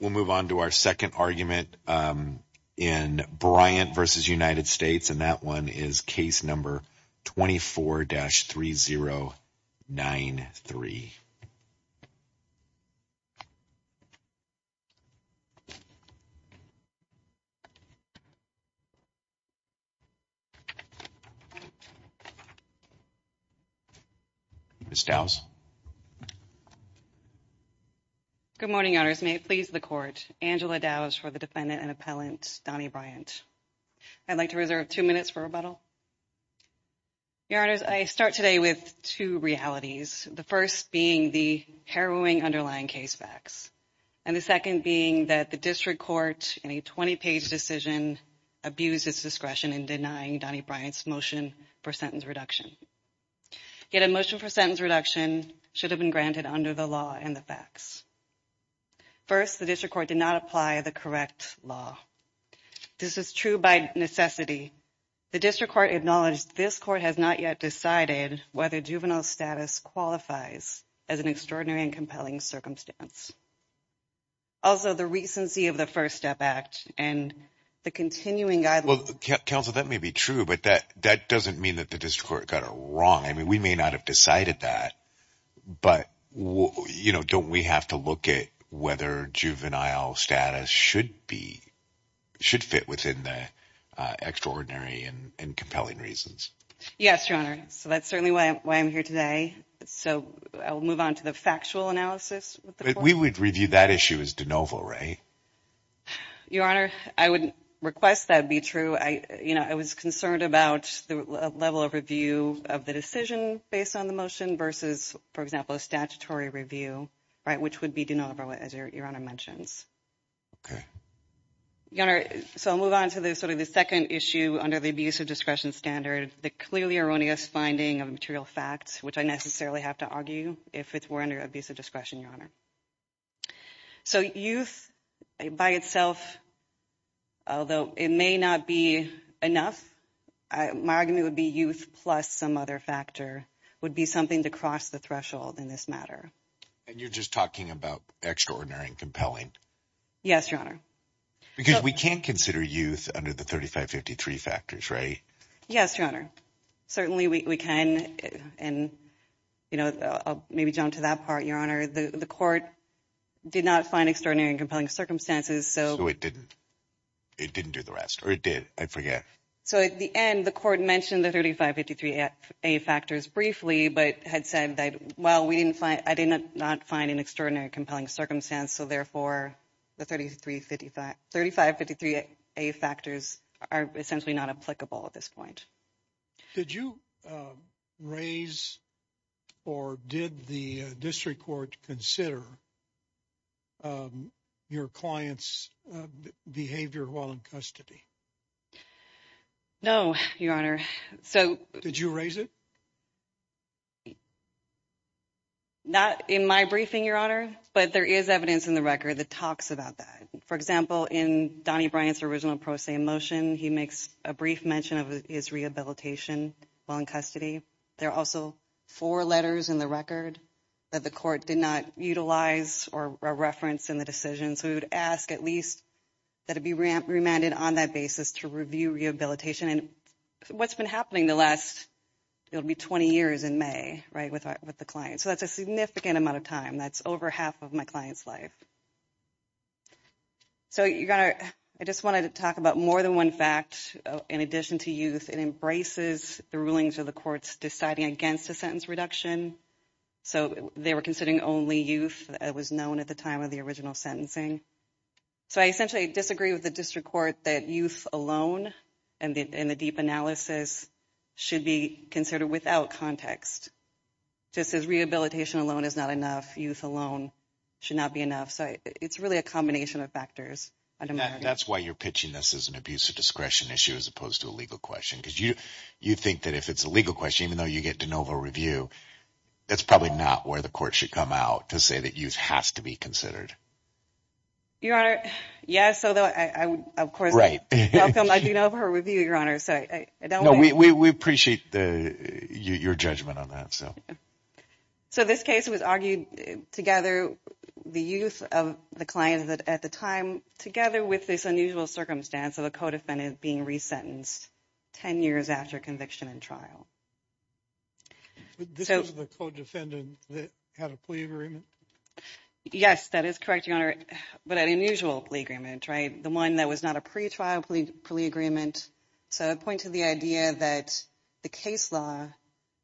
We'll move on to our second argument in Bryant v. United States, and that one is case number 24-3093. Ms. Dowse. Good morning, Your Honors. May it please the Court, Angela Dowse for the defendant and appellant, Donnie Bryant. I'd like to reserve two minutes for rebuttal. Your Honors, I start today with two realities, the first being the harrowing underlying case facts, and the second being that the District Court, in a 20-page decision, abused its discretion in denying Donnie Bryant's motion for sentence reduction. Yet a motion for sentence reduction should have been granted under the law and the facts. First, the District Court did not apply the correct law. This is true by necessity. The District Court acknowledged this Court has not yet decided whether juvenile status qualifies as an extraordinary and compelling But that doesn't mean that the District Court got it wrong. I mean, we may not have decided that, but don't we have to look at whether juvenile status should fit within the extraordinary and compelling reasons? Yes, Your Honor. So that's certainly why I'm here today. So I'll move on to the factual analysis. We would review that issue as de novo, right? Your Honor, I would request that be true. You know, I was concerned about the level of review of the decision based on the motion versus, for example, a statutory review, right, which would be de novo, as Your Honor mentions. Okay. Your Honor, so I'll move on to sort of the second issue under the abuse of discretion standard, the clearly erroneous finding of material facts, which I necessarily have to argue if it were under abuse of discretion, Your Honor. So youth by itself, although it may not be enough, my argument would be youth plus some other factor would be something to cross the threshold in this matter. And you're just talking about extraordinary and compelling? Yes, Your Honor. Because we can't consider youth under the 3553 factors, right? Yes, Your Honor. Certainly we can. And, you know, maybe jump to that part, Your Honor. The court did not find extraordinary and compelling circumstances. So it didn't. It didn't do the rest or it did. I forget. So at the end, the court mentioned the 3553 factors briefly, but had said that, well, we didn't find I did not find an extraordinary, compelling circumstance. So therefore, the thirty three fifty five thirty five fifty three factors are essentially not applicable at this point. Did you raise or did the district court consider your client's behavior while in custody? No, Your Honor. So did you raise it? Not in my briefing, Your Honor. But there is evidence in the record that talks about that. For example, in Donny Bryant's original pro se motion, he makes a brief mention of his rehabilitation while in custody. There are also four letters in the record that the court did not utilize or reference in the decision. So we would ask at least that it be remanded on that basis to review rehabilitation. And what's been happening the last it'll be 20 years in May. Right. With the client. So that's a significant amount of time. That's over half of my client's life. So, Your Honor, I just wanted to talk about more than one fact. In addition to youth, it embraces the rulings of the courts deciding against a sentence reduction. So they were considering only youth. It was known at the time of the original sentencing. So I essentially disagree with the district court that youth alone and the deep analysis should be considered without context. Just as rehabilitation alone is not enough, youth alone should not be enough. So it's really a combination of factors. That's why you're pitching this as an abuse of discretion issue as opposed to a legal question. Because you think that if it's a legal question, even though you get de novo review, it's probably not where the court should come out to say that youth has to be considered. Your Honor, yes. Although, of course, I do know of her review, Your Honor. No, we appreciate your judgment on that. So this case was argued together, the youth of the client at the time, together with this unusual circumstance of a co-defendant being resentenced 10 years after conviction in trial. This was the co-defendant that had a plea agreement? Yes, that is correct, Your Honor. But an unusual plea agreement, right? The one that was not a pretrial plea agreement. So I point to the idea that the case law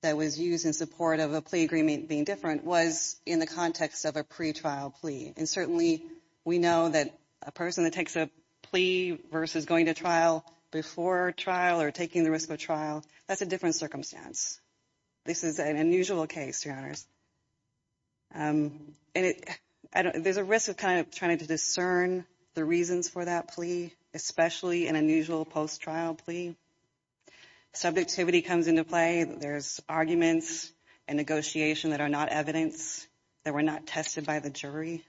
that was used in support of a plea agreement being different was in the context of a pretrial plea. And certainly we know that a person that takes a plea versus going to trial before trial or that's a different circumstance. This is an unusual case, Your Honors. And there's a risk of kind of trying to discern the reasons for that plea, especially an unusual post-trial plea. Subjectivity comes into play. There's arguments and negotiation that are not evidence, that were not tested by the jury.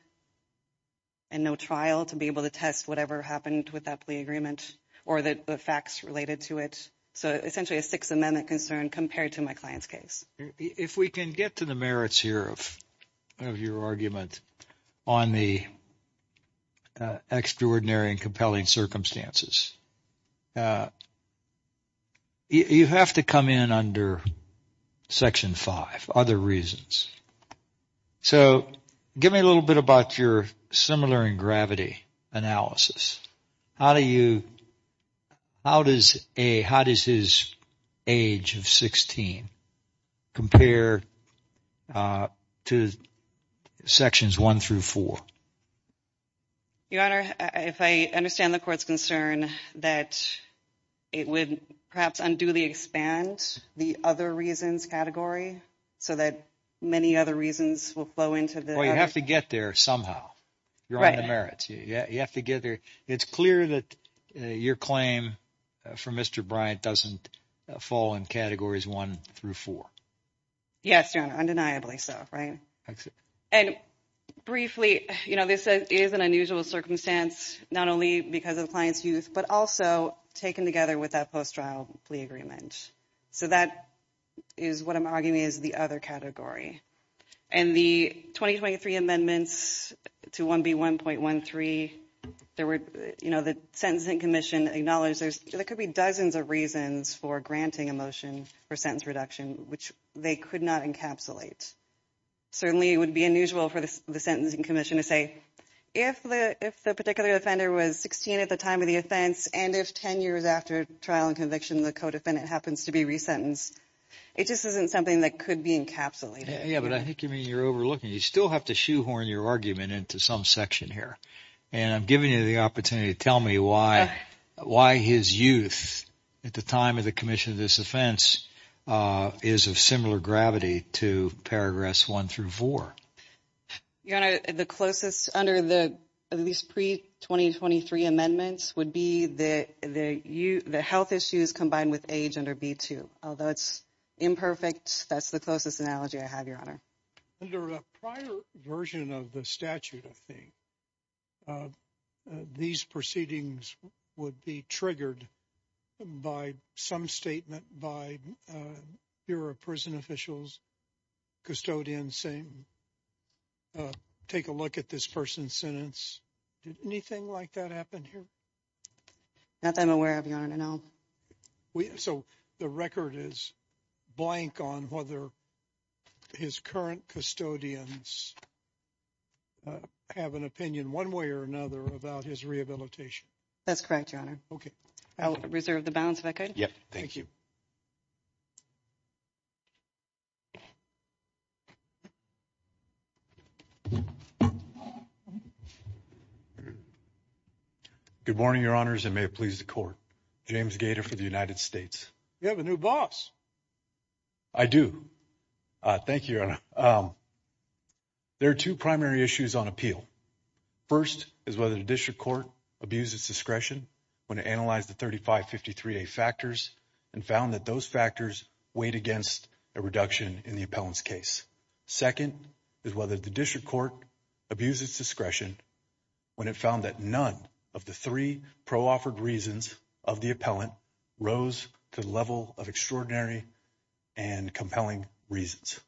And no trial to be able to test whatever happened with that plea agreement or the facts related to it. So essentially a Sixth Amendment concern compared to my client's case. If we can get to the merits here of your argument on the extraordinary and compelling circumstances, you have to come in under Section 5, Other Reasons. So give me a little bit about your similar in gravity analysis. How does his age of 16 compare to Sections 1 through 4? Your Honor, if I understand the court's concern that it would perhaps unduly expand the Other Reasons category so that many other reasons will flow into the other. Well, you have to get there somehow. You're on the merits. You have to get there. It's clear that your claim for Mr. Bryant doesn't fall in Categories 1 through 4. Yes, Your Honor, undeniably so, right? And briefly, you know, this is an unusual circumstance, not only because of the client's youth, but also taken together with that post-trial plea agreement. So that is what I'm arguing is the other category. And the 2023 amendments to 1B1.13, there were, you know, the Sentencing Commission acknowledged there could be dozens of reasons for granting a motion for sentence reduction, which they could not encapsulate. Certainly, it would be unusual for the Sentencing Commission to say, if the particular offender was 16 at the time of the offense, and if 10 years after trial and conviction, the co-defendant happens to be resentenced, it just isn't something that could be encapsulated. Yeah, but I think you mean you're overlooking it. You still have to shoehorn your argument into some section here. And I'm giving you the opportunity to tell me why his youth at the time of the commission of this offense is of similar gravity to paragraphs 1 through 4. Your Honor, the closest under at least pre-2023 amendments would be the health issues combined with age under B2. Although it's imperfect, that's the closest analogy I have, Your Honor. Under a prior version of the statute, I think, these proceedings would be triggered by some statement by Bureau of Prison Officials, custodians saying, take a look at this person's sentence. Did anything like that happen here? Not that I'm aware of, Your Honor, no. So the record is blank on whether his current custodians have an opinion one way or another about his rehabilitation. That's correct, Your Honor. Okay. I'll reserve the balance if I could. Yep, thank you. Good morning, Your Honors, and may it please the Court. James Gator for the United States. You have a new boss. I do. Thank you, Your Honor. There are two primary issues on appeal. First is whether the district court abused its discretion when it analyzed the 3553A factors and found that those factors weighed against a reduction in the appellant's case. Second is whether the district court abused its discretion when it found that none of the three pro-offered reasons of the appellant rose to the level of extraordinary and compelling reasons.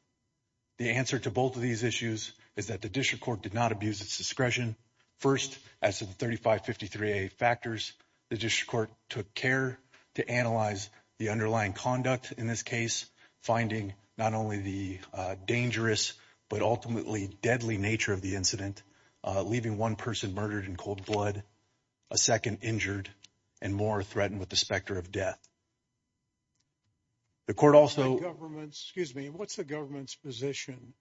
The answer to both of these issues is that the district court did not abuse its discretion. First, as to the 3553A factors, the district court took care to analyze the underlying conduct in this case, finding not only the dangerous but ultimately deadly nature of the incident, leaving one person murdered in cold blood, a second injured, and more threatened with the specter of death. The court also— Excuse me. What's the government's position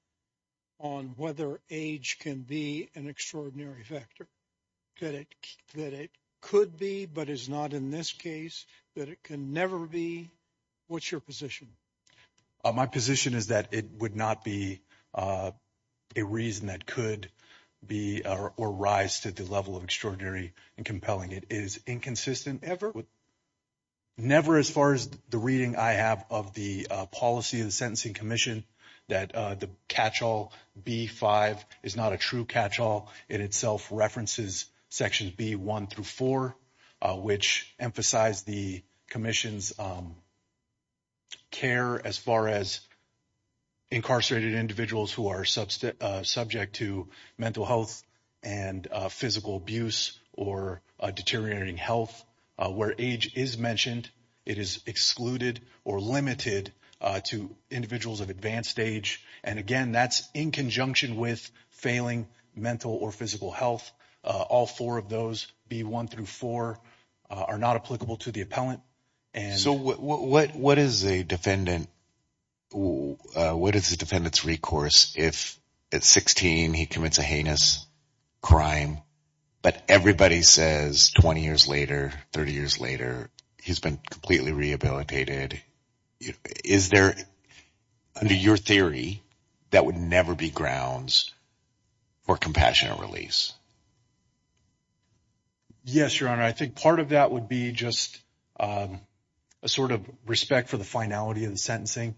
on whether age can be an extraordinary factor? That it could be but is not in this case? That it can never be? What's your position? My position is that it would not be a reason that could be or rise to the level of extraordinary and compelling. It is inconsistent. Never as far as the reading I have of the policy of the Sentencing Commission that the catchall B-5 is not a true catchall. It itself references sections B-1 through 4, which emphasize the commission's care as far as incarcerated individuals who are subject to mental health and physical abuse or deteriorating health. Where age is mentioned, it is excluded or limited to individuals of advanced age. And again, that's in conjunction with failing mental or physical health. All four of those, B-1 through 4, are not applicable to the appellant. So what is a defendant's recourse if at 16 he commits a heinous crime, but everybody says 20 years later, 30 years later, he's been completely rehabilitated? Is there, under your theory, that would never be grounds for compassionate release? Yes, Your Honor. I think part of that would be just a sort of respect for the finality of the sentencing,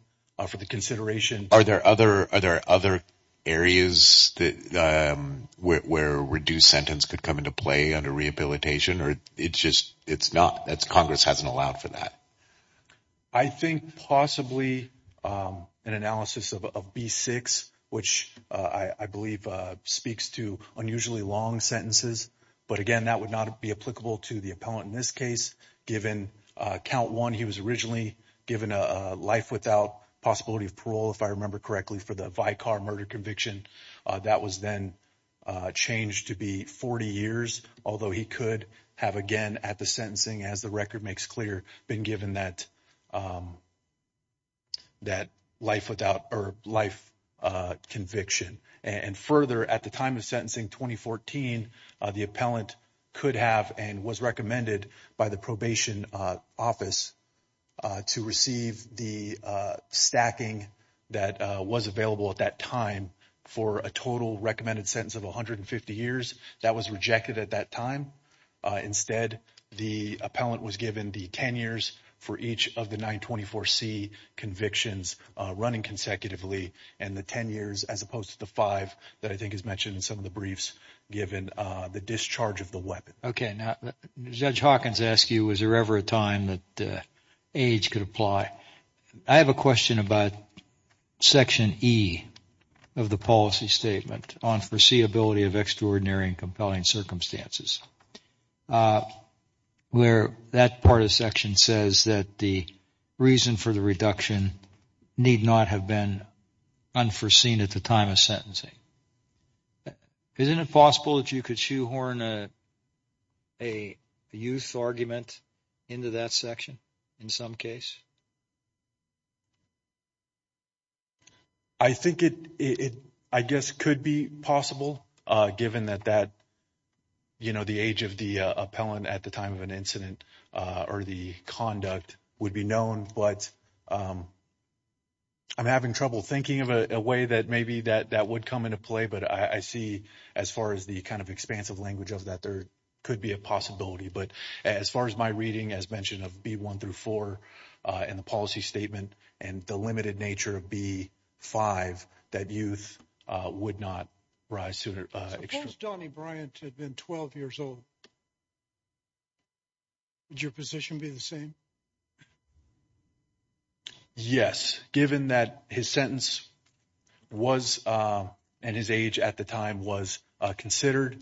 for the consideration. Are there other areas where reduced sentence could come into play under rehabilitation? It's just not. Congress hasn't allowed for that. I think possibly an analysis of B-6, which I believe speaks to unusually long sentences. But again, that would not be applicable to the appellant in this case. Given count one, he was originally given a life without possibility of parole, if I remember correctly, for the Vicar murder conviction. That was then changed to be 40 years, although he could have, again, at the sentencing, as the record makes clear, been given that life conviction. And further, at the time of sentencing, 2014, the appellant could have and was recommended by the probation office to receive the stacking that was available at that time for a total recommended sentence of 150 years. That was rejected at that time. Instead, the appellant was given the 10 years for each of the 924C convictions running consecutively, and the 10 years as opposed to the five that I think is mentioned in some of the briefs, given the discharge of the weapon. Okay. Now, Judge Hawkins asked you, was there ever a time that age could apply? I have a question about section E of the policy statement on foreseeability of extraordinary and compelling circumstances, where that part of the section says that the reason for the reduction need not have been unforeseen at the time of sentencing. Isn't it possible that you could shoehorn a youth argument into that section in some case? I think it, I guess, could be possible, given that that, you know, the age of the appellant at the time of an incident or the conduct would be known. But I'm having trouble thinking of a way that maybe that would come into play. But I see, as far as the kind of expansive language of that, there could be a possibility. But as far as my reading, as mentioned, of B1 through 4 in the policy statement and the limited nature of B5, that youth would not rise to extraordinary. If Donnie Bryant had been 12 years old, would your position be the same? Yes, given that his sentence was, and his age at the time was considered,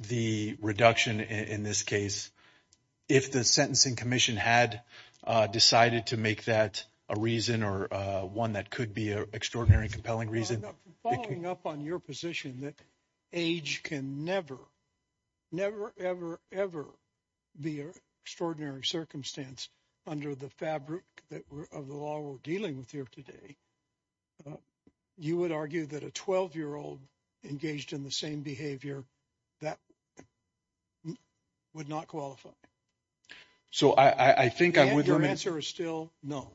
the reduction in this case, if the sentencing commission had decided to make that a reason or one that could be an extraordinary and compelling reason. Following up on your position that age can never, never, ever, ever be an extraordinary circumstance under the fabric of the law we're dealing with here today, you would argue that a 12-year-old engaged in the same behavior, that would not qualify. So I think I would— And your answer is still no.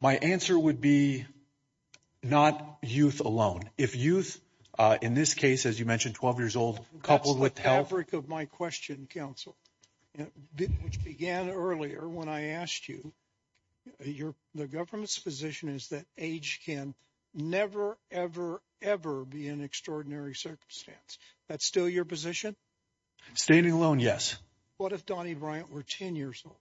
My answer would be not youth alone. If youth, in this case, as you mentioned, 12 years old, coupled with health— That's the fabric of my question, counsel, which began earlier when I asked you. The government's position is that age can never, ever, ever be an extraordinary circumstance. That's still your position? Standing alone, yes. What if Donnie Bryant were 10 years old?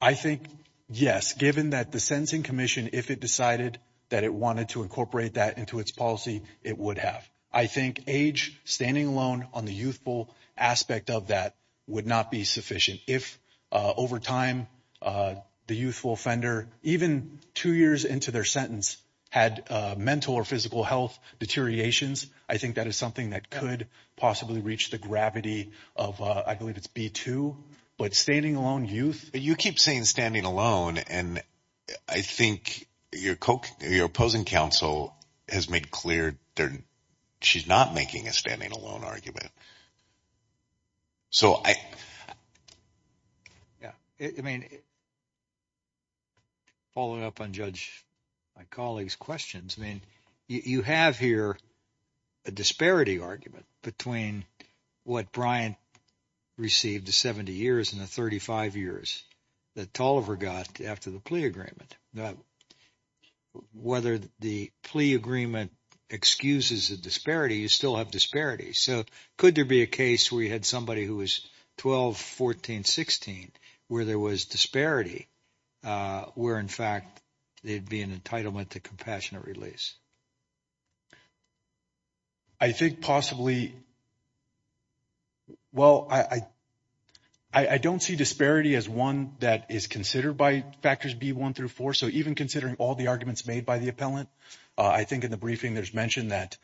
I think, yes, given that the sentencing commission, if it decided that it wanted to incorporate that into its policy, it would have. I think age, standing alone on the youthful aspect of that, would not be sufficient. If, over time, the youthful offender, even two years into their sentence, had mental or physical health deteriorations, I think that is something that could possibly reach the gravity of, I believe it's B-2. But standing alone, youth— You keep saying standing alone, and I think your opposing counsel has made clear that she's not making a standing alone argument. So I— Yeah, I mean, following up on Judge—my colleague's questions, I mean, you have here a disparity argument between what Bryant received the 70 years and the 35 years that Toliver got after the plea agreement. Whether the plea agreement excuses a disparity, you still have disparities. So could there be a case where you had somebody who was 12, 14, 16, where there was disparity, where, in fact, there'd be an entitlement to compassionate release? I think possibly—well, I don't see disparity as one that is considered by factors B-1 through 4. So even considering all the arguments made by the appellant, I think in the briefing there's mention that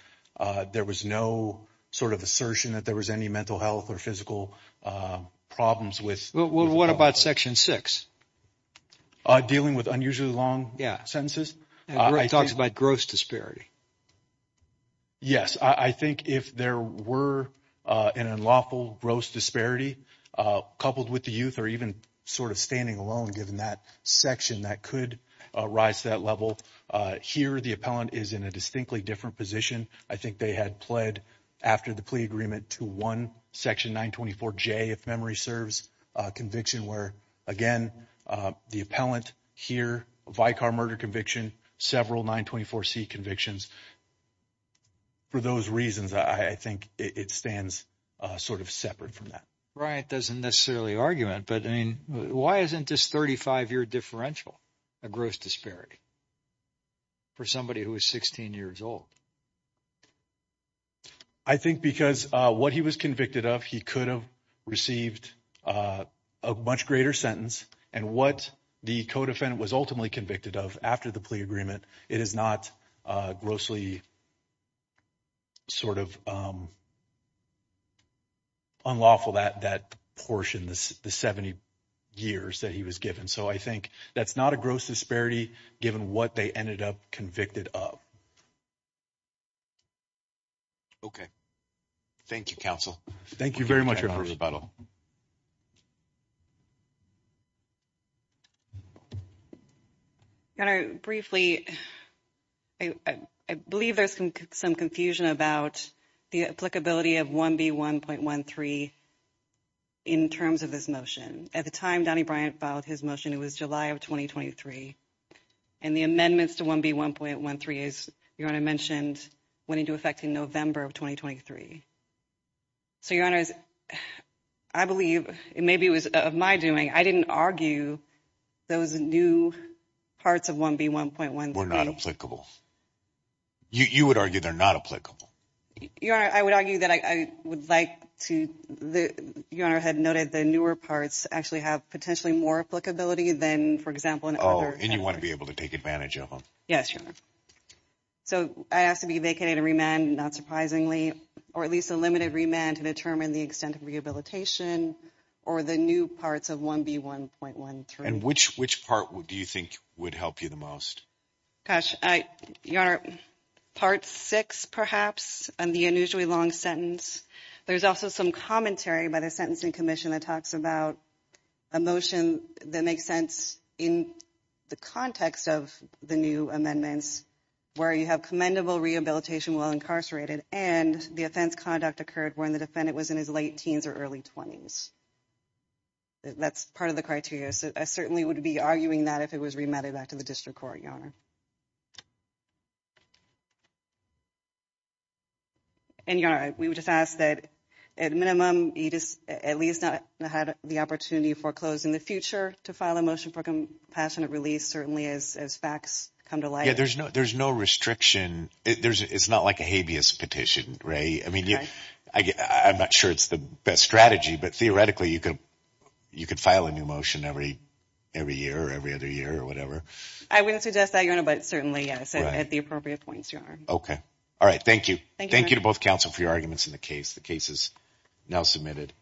there was no sort of assertion that there was any mental health or physical problems with— Well, what about Section 6? Dealing with unusually long sentences? It talks about gross disparity. Yes, I think if there were an unlawful gross disparity coupled with the youth or even sort of standing alone, given that section, that could rise to that level. Here the appellant is in a distinctly different position. I think they had pled after the plea agreement to one Section 924J, if memory serves, conviction, where, again, the appellant here, a Vicar murder conviction, several 924C convictions. For those reasons, I think it stands sort of separate from that. Bryant doesn't necessarily argument, but, I mean, why isn't this 35-year differential a gross disparity for somebody who is 16 years old? I think because what he was convicted of, he could have received a much greater sentence, and what the co-defendant was ultimately convicted of after the plea agreement, it is not grossly sort of unlawful, that portion, the 70 years that he was given. So I think that's not a gross disparity given what they ended up convicted of. Okay. Thank you, counsel. Thank you very much, Your Honor. Thank you for the rebuttal. Your Honor, briefly, I believe there's some confusion about the applicability of 1B1.13 in terms of this motion. At the time Donnie Bryant filed his motion, it was July of 2023, and the amendments to 1B1.13, as Your Honor mentioned, went into effect in November of 2023. So, Your Honor, I believe, maybe it was of my doing, I didn't argue those new parts of 1B1.13. Were not applicable. You would argue they're not applicable. Your Honor, I would argue that I would like to, Your Honor had noted the newer parts actually have potentially more applicability than, for example, in other. Oh, and you want to be able to take advantage of them. Yes, Your Honor. So I ask to be vacated and remanded, not surprisingly, or at least a limited remand to determine the extent of rehabilitation or the new parts of 1B1.13. And which part do you think would help you the most? Gosh, Your Honor, part six, perhaps, and the unusually long sentence. There's also some commentary by the Sentencing Commission that talks about a motion that makes sense in the context of the new amendments where you have commendable rehabilitation while incarcerated, and the offense conduct occurred when the defendant was in his late teens or early 20s. That's part of the criteria. So I certainly wouldn't be arguing that if it was remanded back to the district court, Your Honor. And, Your Honor, we would just ask that at minimum, you just at least not had the opportunity foreclosed in the future to file a motion for compassionate release, certainly as facts come to light. Yeah, there's no restriction. It's not like a habeas petition, right? I'm not sure it's the best strategy, but theoretically you could file a new motion every year or every other year or whatever. I wouldn't suggest that, Your Honor, but certainly, yes, at the appropriate points, Your Honor. Okay. All right. Thank you. Thank you to both counsel for your arguments in the case. The case is now submitted.